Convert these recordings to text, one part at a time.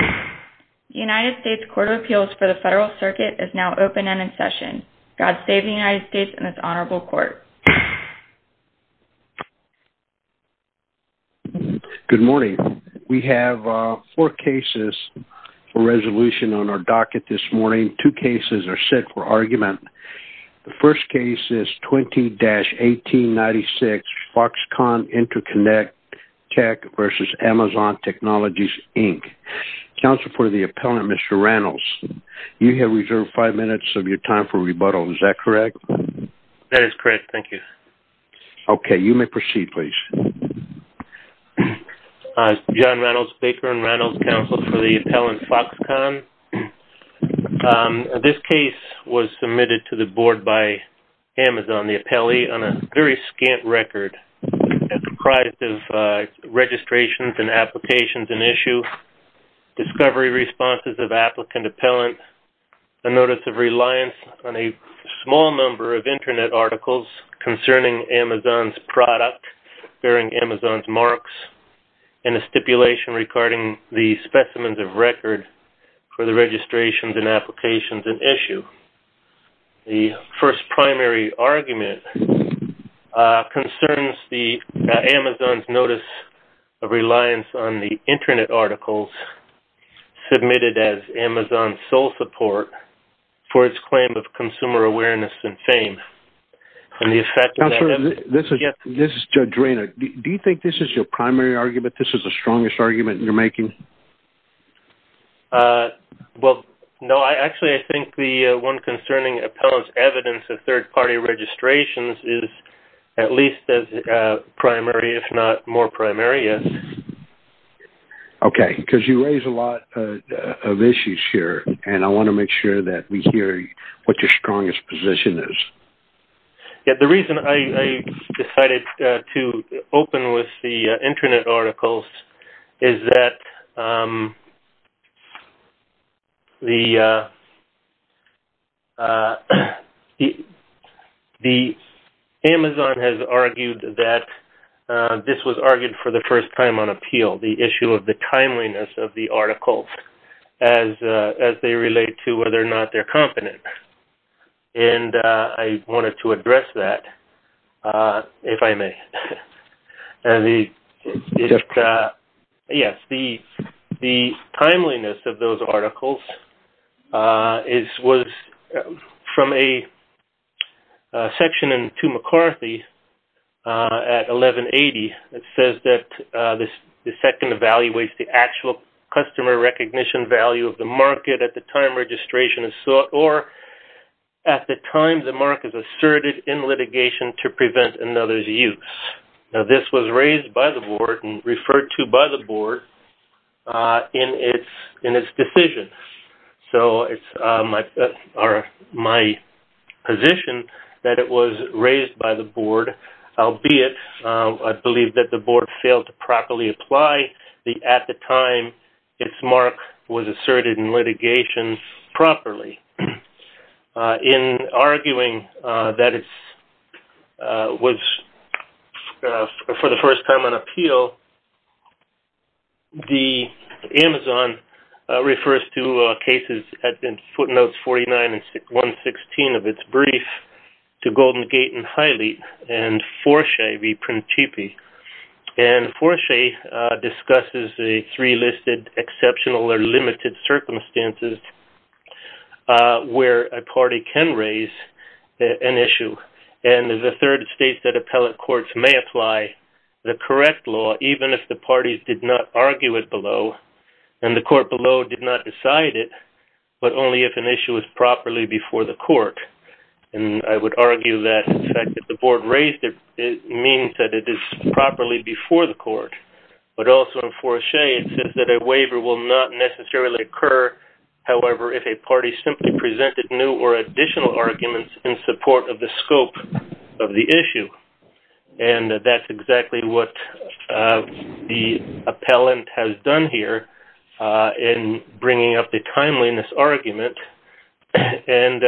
The United States Court of Appeals for the Federal Circuit is now open and in session. God save the United States and this honorable court. Good morning. We have four cases for resolution on our docket this morning. Two cases are set for argument. The first case is 20-1896 Foxconn Interconnect Tech v. Amazon Technologies, Inc. Counsel for the appellant, Mr. Reynolds, you have reserved five minutes of your time for rebuttal. Is that correct? That is correct. Thank you. Okay. You may proceed, please. John Reynolds, Baker and Reynolds Counsel for the appellant, Foxconn. This case was submitted to the board by Amazon, the appellee, on a very scant record. It comprised of registrations and applications in issue, discovery responses of applicant appellant, a notice of reliance on a small number of Internet articles concerning Amazon's product bearing Amazon's marks, and a stipulation regarding the specimens of record for the registrations and applications in issue. The first primary argument concerns Amazon's notice of reliance on the Internet articles submitted as Amazon's sole support for its claim of consumer awareness and fame. Counselor, this is Judge Rayner. Do you think this is your primary argument? This is the strongest argument you're making? Well, no. Actually, I think the one concerning appellant's evidence of third-party registrations is at least as primary, if not more primary, yes. Okay. Because you raise a lot of issues here, and I want to make sure that we hear what your strongest position is. The reason I decided to open with the Internet articles is that Amazon has argued that this was argued for the first time on appeal, the issue of the timeliness of the articles as they relate to whether or not they're competent. And I wanted to address that, if I may. Yes, the timeliness of those articles was from a section in 2 McCarthy at 1180 that says that the second evaluates the actual customer recognition value of the market at the time registration is sought, or at the time the mark is asserted in litigation to prevent another's use. Now, this was raised by the board and referred to by the board in its decision. So it's my position that it was raised by the board, albeit I believe that the board failed to properly apply at the time its mark was asserted in litigation properly. In arguing that it was for the first time on appeal, the Amazon refers to cases in footnotes 49 and 116 of its brief to Golden Gate and Hylite and Forche v. Prentipi. And Forche discusses the three listed exceptional or limited circumstances where a party can raise an issue. And the third states that appellate courts may apply the correct law even if the parties did not argue it below and the court below did not decide it, but only if an issue is properly before the court. And I would argue that the fact that the board raised it means that it is properly before the court. But also in Forche it says that a waiver will not necessarily occur, however, if a party simply presented new or additional arguments in support of the scope of the issue. And that's exactly what the appellant has done here in bringing up the timeliness argument. And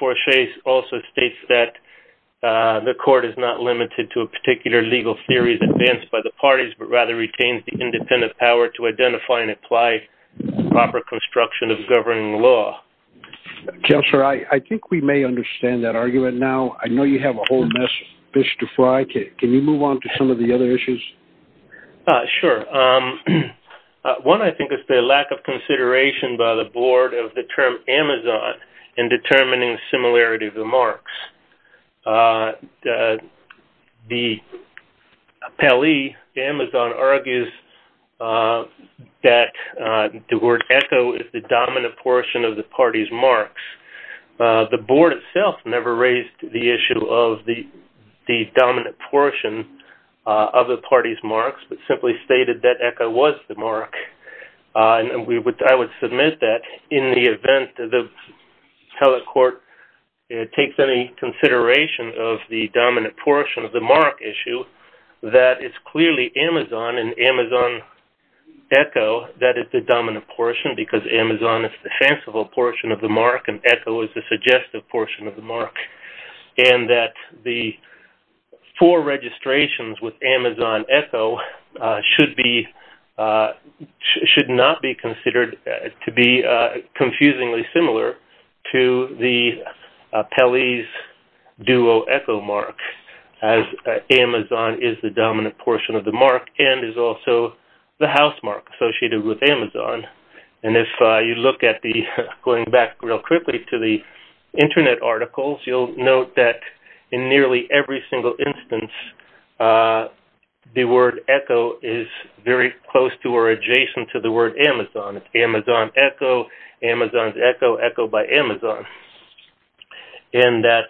Forche also states that the court is not limited to a particular legal series advanced by the parties, but rather retains the independent power to identify and apply proper construction of governing law. Jeff, sir, I think we may understand that argument now. I know you have a whole mess of fish to fry. Can you move on to some of the other issues? Sure. One, I think, is the lack of consideration by the board of the term Amazon in determining similarity of the marks. The appellee, Amazon, argues that the word echo is the dominant portion of the party's marks. The board itself never raised the issue of the dominant portion of the party's marks, but simply stated that echo was the mark. And I would submit that in the event that the appellate court takes any consideration of the dominant portion of the mark issue, that it's clearly Amazon and Amazon echo that is the dominant portion because Amazon is the sensible portion of the mark and echo is the suggestive portion of the mark. And that the four registrations with Amazon echo should not be considered to be confusingly similar to the appellee's duo echo mark as Amazon is the dominant portion of the mark and is also the house mark associated with Amazon. And if you look at the, going back real quickly to the internet articles, you'll note that in nearly every single instance, the word echo is very close to or adjacent to the word Amazon. It's Amazon echo, Amazon's echo, echo by Amazon. And that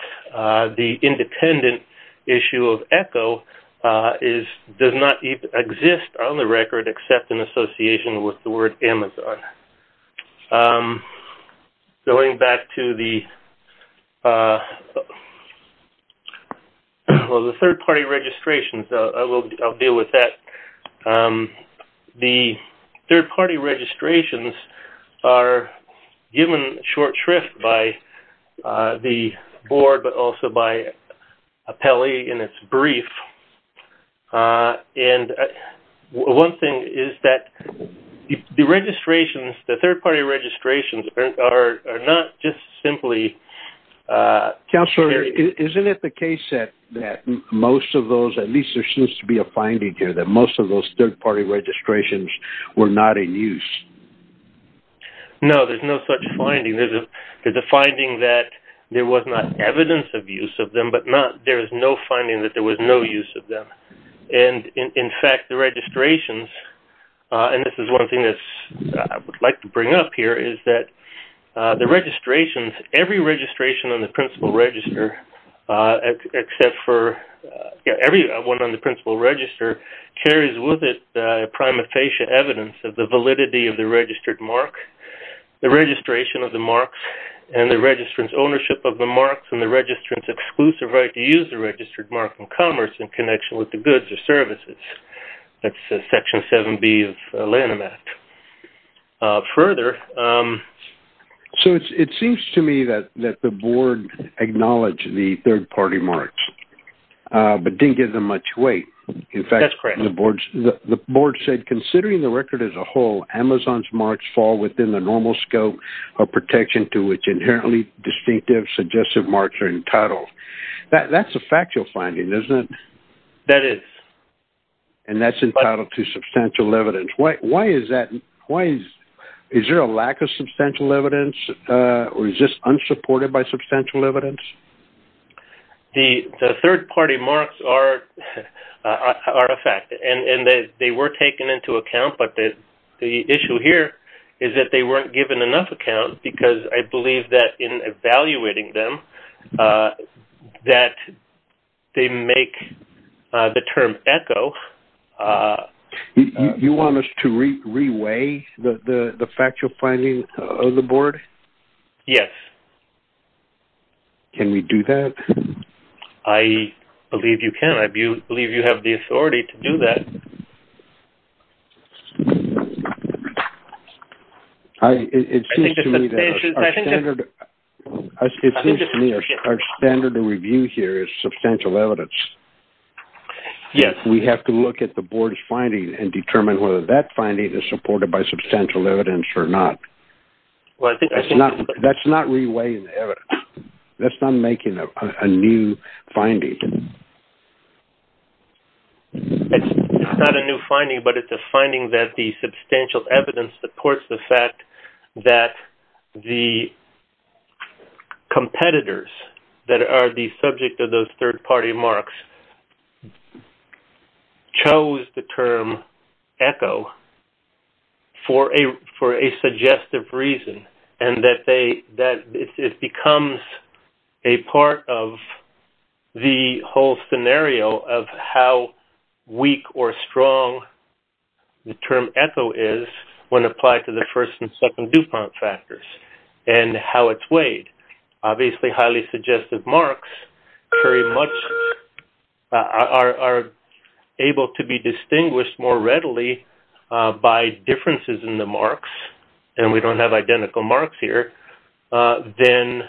the independent issue of echo does not exist on the record except in association with the word Amazon. Going back to the third party registrations, I'll deal with that. The third party registrations are given short shrift by the board, but also by appellee in its brief. And one thing is that the registrations, the third party registrations are not just simply... Counselor, isn't it the case that most of those, at least there seems to be a finding here, that most of those third party registrations were not in use? No, there's no such finding. There's a finding that there was not evidence of use of them, but there is no finding that there was no use of them. And in fact, the registrations, and this is one thing that I would like to bring up here, is that the registrations, every registration on the principal register, except for... Every one on the principal register carries with it prima facie evidence of the validity of the registered mark, the registration of the marks, and the registrant's ownership of the marks, and the registrant's exclusive right to use the registered mark in commerce in connection with the goods or services. That's section 7B of Lanham Act. Further... So it seems to me that the board acknowledged the third party marks, but didn't give them much weight. That's correct. In fact, the board said, considering the record as a whole, Amazon's marks fall within the normal scope of protection to which inherently distinctive, suggestive marks are entitled. That's a factual finding, isn't it? That is. And that's entitled to substantial evidence. Why is that? Is there a lack of substantial evidence, or is this unsupported by substantial evidence? The third party marks are a fact, and they were taken into account, but the issue here is that they weren't given enough account, because I believe that in evaluating them, that they make the term echo. You want us to re-weigh the factual finding of the board? Yes. Can we do that? I believe you can. I believe you have the authority to do that. It seems to me that our standard of review here is substantial evidence. Yes. We have to look at the board's findings and determine whether that finding is supported by substantial evidence or not. That's not re-weighing the evidence. That's not making a new finding. It's not a new finding, but it's a finding that the substantial evidence supports the fact that the competitors that are the subject of those third party marks chose the term echo for a suggestive reason, and that it becomes a part of the whole scenario of how weak or strong the term echo is when applied to the first and second DuPont factors and how it's weighed. Obviously, highly suggestive marks are able to be distinguished more readily by differences in the marks, and we don't have identical marks here, than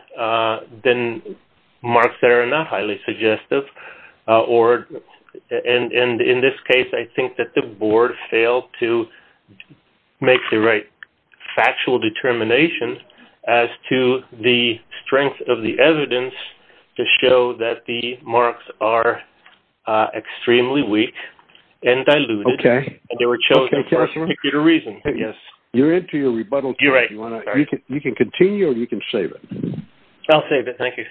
marks that are not highly suggestive. In this case, I think that the board failed to make the right factual determination as to the strength of the evidence to show that the marks are extremely weak and diluted. Okay. They were chosen for a particular reason. You're into your rebuttal. You're right. You can continue or you can save it. I'll save it. Thank you.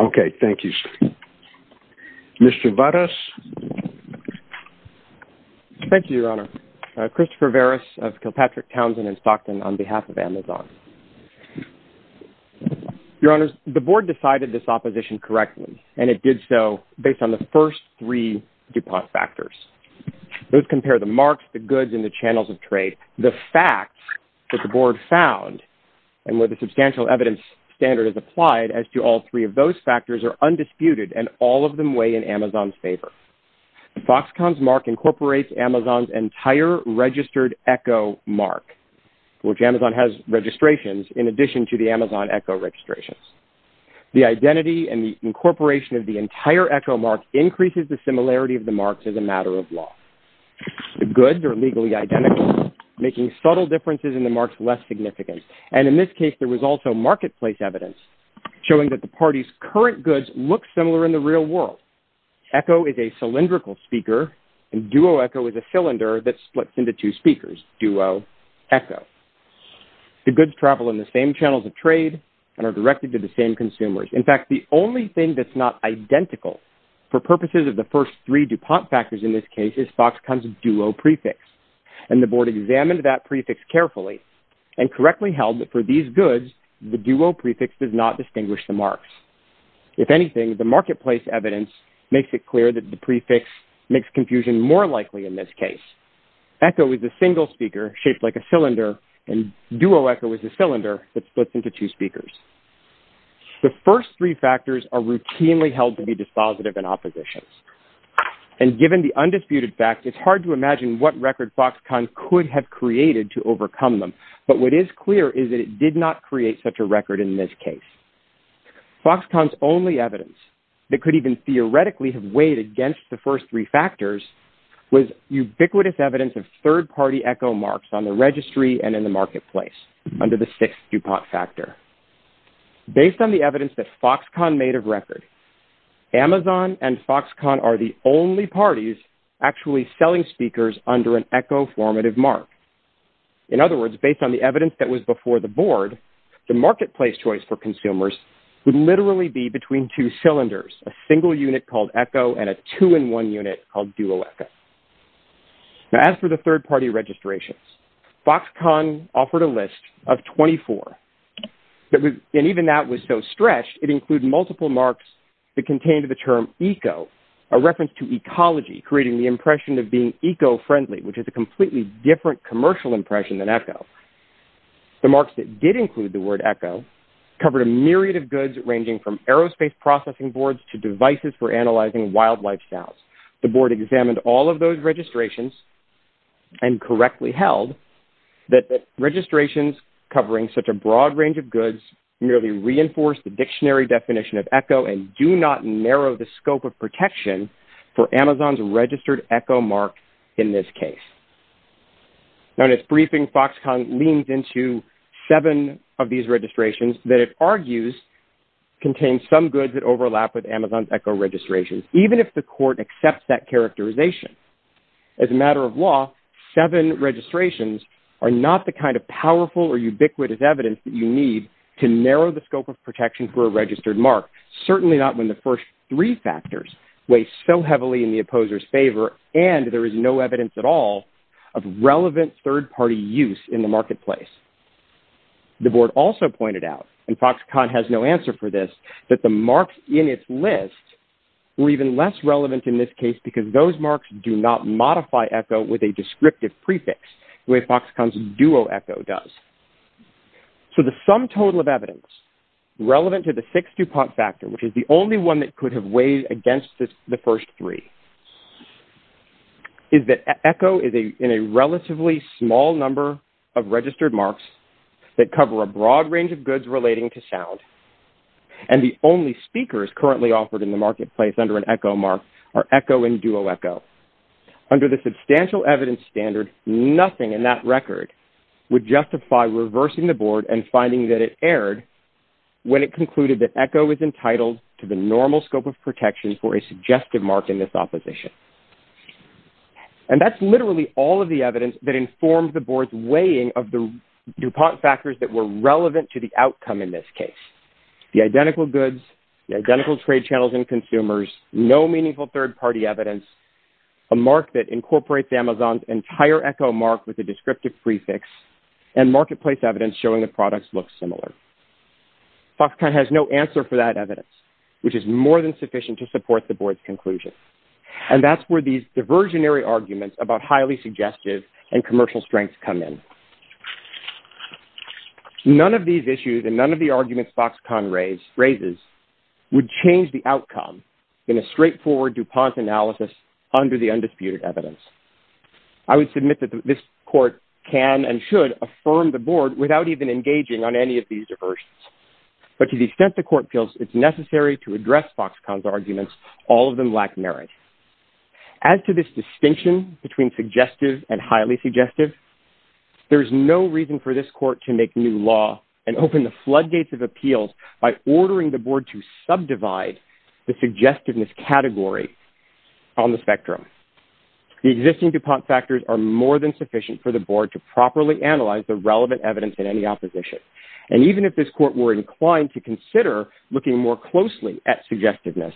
Okay. Thank you. Mr. Varas. Thank you, Your Honor. Christopher Varas of Kilpatrick, Townsend, and Stockton on behalf of Amazon. Your Honor, the board decided this opposition correctly, and it did so based on the first three DuPont factors. Those compare the marks, the goods, and the channels of trade. The facts that the board found and where the substantial evidence standard is applied as to all three of those factors are undisputed, and all of them weigh in Amazon's favor. The Foxconn's mark incorporates Amazon's entire registered echo mark, which Amazon has registrations in addition to the Amazon echo registrations. The identity and the incorporation of the entire echo mark increases the similarity of the marks as a matter of law. The goods are legally identical, making subtle differences in the marks less significant. And in this case, there was also marketplace evidence showing that the party's current goods look similar in the real world. Echo is a cylindrical speaker, and duo echo is a cylinder that splits into two speakers, duo echo. The goods travel in the same channels of trade and are directed to the same consumers. In fact, the only thing that's not identical for purposes of the first three DuPont factors in this case is Foxconn's duo prefix. And the board examined that prefix carefully and correctly held that for these goods, the duo prefix does not distinguish the marks. If anything, the marketplace evidence makes it clear that the prefix makes confusion more likely in this case. Echo is a single speaker shaped like a cylinder, and duo echo is a cylinder that splits into two speakers. The first three factors are routinely held to be dispositive and oppositions. And given the undisputed fact, it's hard to imagine what record Foxconn could have created to overcome them. But what is clear is that it did not create such a record in this case. Foxconn's only evidence that could even theoretically have weighed against the first three factors was ubiquitous evidence of third-party echo marks on the registry and in the marketplace under the sixth DuPont factor. Based on the evidence that Foxconn made of record, Amazon and Foxconn are the only parties actually selling speakers under an echo formative mark. In other words, based on the evidence that was before the board, the marketplace choice for consumers would literally be between two cylinders, a single unit called echo and a two-in-one unit called duo echo. Now as for the third-party registrations, Foxconn offered a list of 24. And even that was so stretched, it included multiple marks that contained the term eco, a reference to ecology, creating the impression of being eco-friendly, which is a completely different commercial impression than echo. The marks that did include the word echo covered a myriad of goods, ranging from aerospace processing boards to devices for analyzing wildlife sounds. The board examined all of those registrations and correctly held that registrations covering such a broad range of goods merely reinforced the dictionary definition of echo and do not narrow the scope of protection for Amazon's registered echo mark in this case. Now in its briefing, Foxconn leans into seven of these registrations that it argues contain some goods that overlap with Amazon's echo registrations, even if the court accepts that characterization. As a matter of law, seven registrations are not the kind of powerful or ubiquitous evidence that you need to narrow the scope of protection for a registered mark, certainly not when the first three factors weigh so heavily in the opposer's favor and there is no evidence at all of relevant third-party use in the marketplace. The board also pointed out, and Foxconn has no answer for this, that the marks in its list were even less relevant in this case because those marks do not modify echo with a descriptive prefix, the way Foxconn's duo echo does. So the sum total of evidence relevant to the six DuPont factors, which is the only one that could have weighed against the first three, is that echo is in a relatively small number of registered marks that cover a broad range of goods relating to sound and the only speakers currently offered in the marketplace under an echo mark are echo and duo echo. Under the substantial evidence standard, nothing in that record would justify reversing the board and finding that it erred when it concluded that echo is entitled to the normal scope of protection for a suggestive mark in this opposition. And that's literally all of the evidence that informs the board's weighing of the DuPont factors that were relevant to the outcome in this case. The identical goods, the identical trade channels and consumers, no meaningful third-party evidence, a mark that incorporates Amazon's entire echo mark with a descriptive prefix and marketplace evidence showing the products look similar. Foxconn has no answer for that evidence, which is more than sufficient to support the board's conclusion. And that's where these diversionary arguments about highly suggestive and commercial strengths come in. None of these issues and none of the arguments Foxconn raises would change the outcome in a straightforward DuPont analysis under the undisputed evidence. I would submit that this court can and should affirm the board without even engaging on any of these diversions. But to the extent the court feels it's necessary to address Foxconn's arguments, all of them lack merit. As to this distinction between suggestive and highly suggestive, there's no reason for this court to make new law and open the floodgates of appeals by ordering the board to subdivide the suggestiveness category on the spectrum. The existing DuPont factors are more than sufficient for the board to properly analyze the relevant evidence in any opposition. And even if this court were inclined to consider looking more closely at suggestiveness,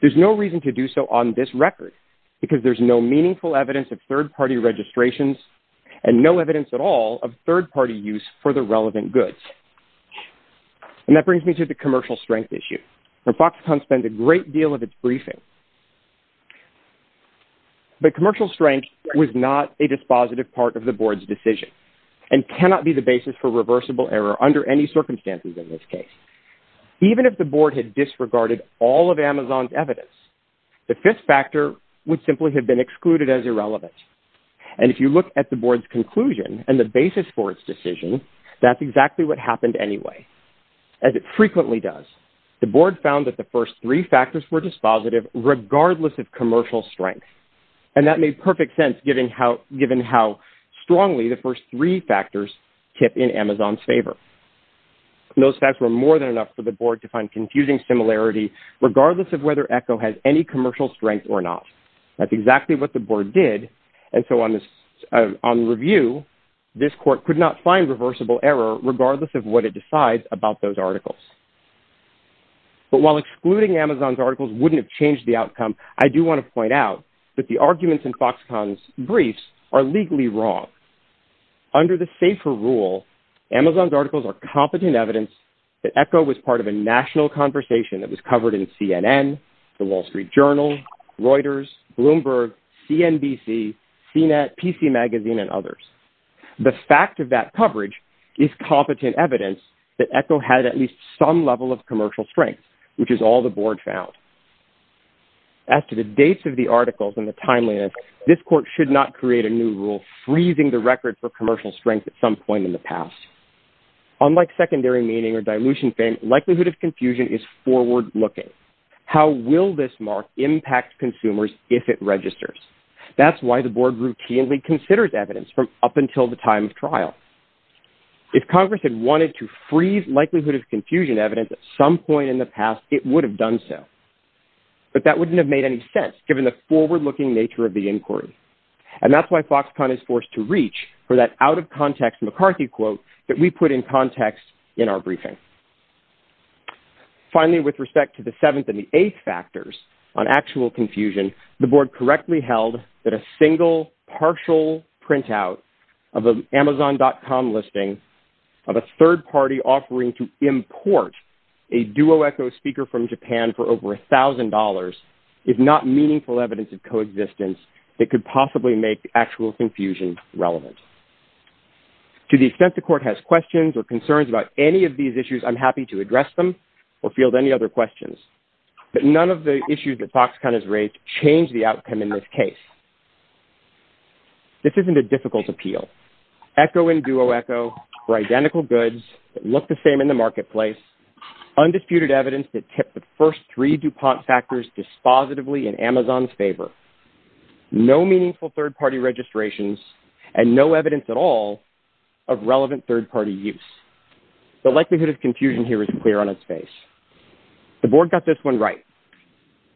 there's no reason to do so on this record because there's no meaningful evidence of third-party registrations and no evidence at all of third-party use for the relevant goods. And that brings me to the commercial strength issue. Foxconn spent a great deal of its briefing. But commercial strength was not a dispositive part of the board's decision and cannot be the basis for reversible error under any circumstances in this case. Even if the board had disregarded all of Amazon's evidence, the fifth factor would simply have been excluded as irrelevant. And if you look at the board's conclusion and the basis for its decision, that's exactly what happened anyway, as it frequently does. The board found that the first three factors were dispositive regardless of commercial strength. And that made perfect sense given how strongly the first three factors tip in Amazon's favor. Those facts were more than enough for the board to find confusing similarity regardless of whether Echo has any commercial strength or not. That's exactly what the board did. And so on review, this court could not find reversible error regardless of what it decides about those articles. But while excluding Amazon's articles wouldn't have changed the outcome, I do want to point out that the arguments in Foxconn's briefs are legally wrong. Under the SAFER rule, Amazon's articles are competent evidence that Echo was part of a national conversation that was covered in CNN, the Wall Street Journal, Reuters, Bloomberg, CNBC, CNET, PC Magazine, and others. The fact of that coverage is competent evidence that Echo had at least some level of commercial strength, which is all the board found. As to the dates of the articles and the timeliness, this court should not create a new rule freezing the record for commercial strength at some point in the past. Unlike secondary meaning or dilution fame, likelihood of confusion is forward-looking. How will this mark impact consumers if it registers? That's why the board routinely considers evidence from up until the time of trial. If Congress had wanted to freeze likelihood of confusion evidence at some point in the past, it would have done so. But that wouldn't have made any sense, given the forward-looking nature of the inquiry. And that's why Foxconn is forced to reach for that out-of-context McCarthy quote that we put in context in our briefing. Finally, with respect to the seventh and the eighth factors on actual confusion, the board correctly held that a single partial printout of an Amazon.com listing of a third-party offering to import a Duo Echo speaker from Japan for over $1,000 is not meaningful evidence of coexistence that could possibly make actual confusion relevant. To the extent the court has questions or concerns about any of these issues, I'm happy to address them or field any other questions. But none of the issues that Foxconn has raised change the outcome in this case. This isn't a difficult appeal. Echo and Duo Echo were identical goods that looked the same in the marketplace, undisputed evidence that tipped the first three DuPont factors dispositively in Amazon's favor. No meaningful third-party registrations and no evidence at all of relevant third-party use. The likelihood of confusion here is clear on its face. The board got this one right,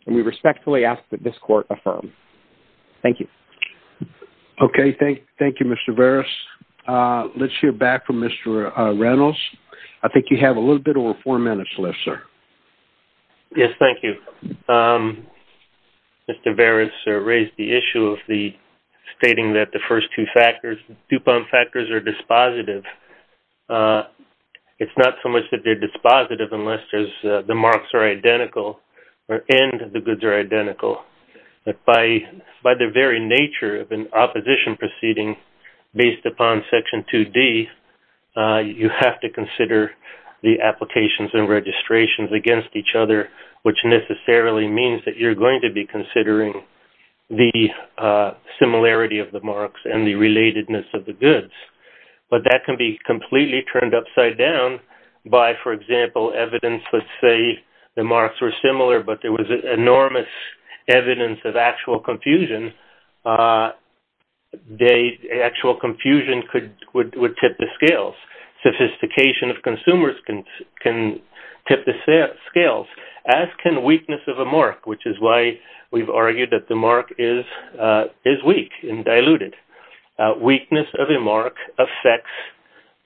and we respectfully ask that this court affirm. Thank you. Okay, thank you, Mr. Veras. Let's hear back from Mr. Reynolds. I think you have a little bit over four minutes left, sir. Yes, thank you. Mr. Veras raised the issue of the stating that the first two factors, DuPont factors are dispositive. It's not so much that they're dispositive unless the marks are identical and the goods are identical. But by the very nature of an opposition proceeding based upon Section 2D, you have to consider the applications and registrations against each other, which necessarily means that you're going to be considering the similarity of the marks and the relatedness of the goods. But that can be completely turned upside down by, for example, evidence. Let's say the marks were similar, but there was enormous evidence of actual confusion. Actual confusion would tip the scales. Sophistication of consumers can tip the scales, as can weakness of a mark, which is why we've argued that the mark is weak and diluted. Weakness of a mark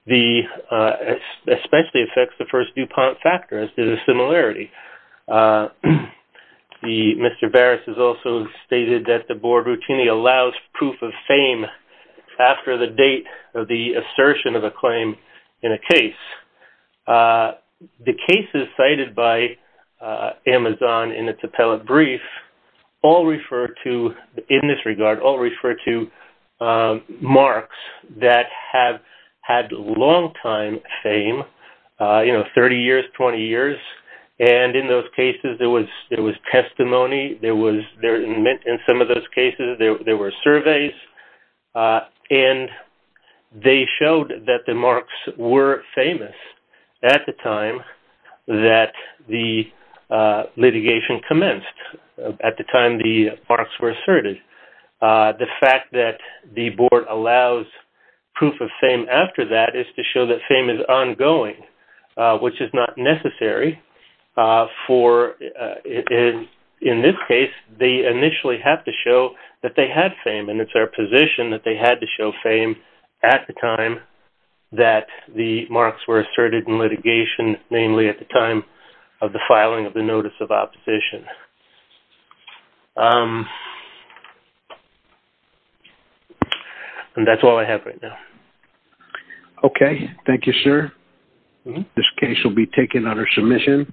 especially affects the first DuPont factor, as does the similarity. Mr. Veras has also stated that the board routinely allows proof of fame The cases cited by Amazon in its appellate brief all refer to, in this regard, all refer to marks that have had long-time fame, you know, 30 years, 20 years. And in those cases, there was testimony. In some of those cases, there were surveys. And they showed that the marks were famous at the time that the litigation commenced, at the time the marks were asserted. The fact that the board allows proof of fame after that is to show that fame is ongoing, which is not necessary. In this case, they initially have to show that they had fame, and it's their position that they had to show fame at the time that the marks were asserted in litigation, namely at the time of the filing of the notice of opposition. And that's all I have right now. Okay. Thank you, sir. This case will be taken under submission.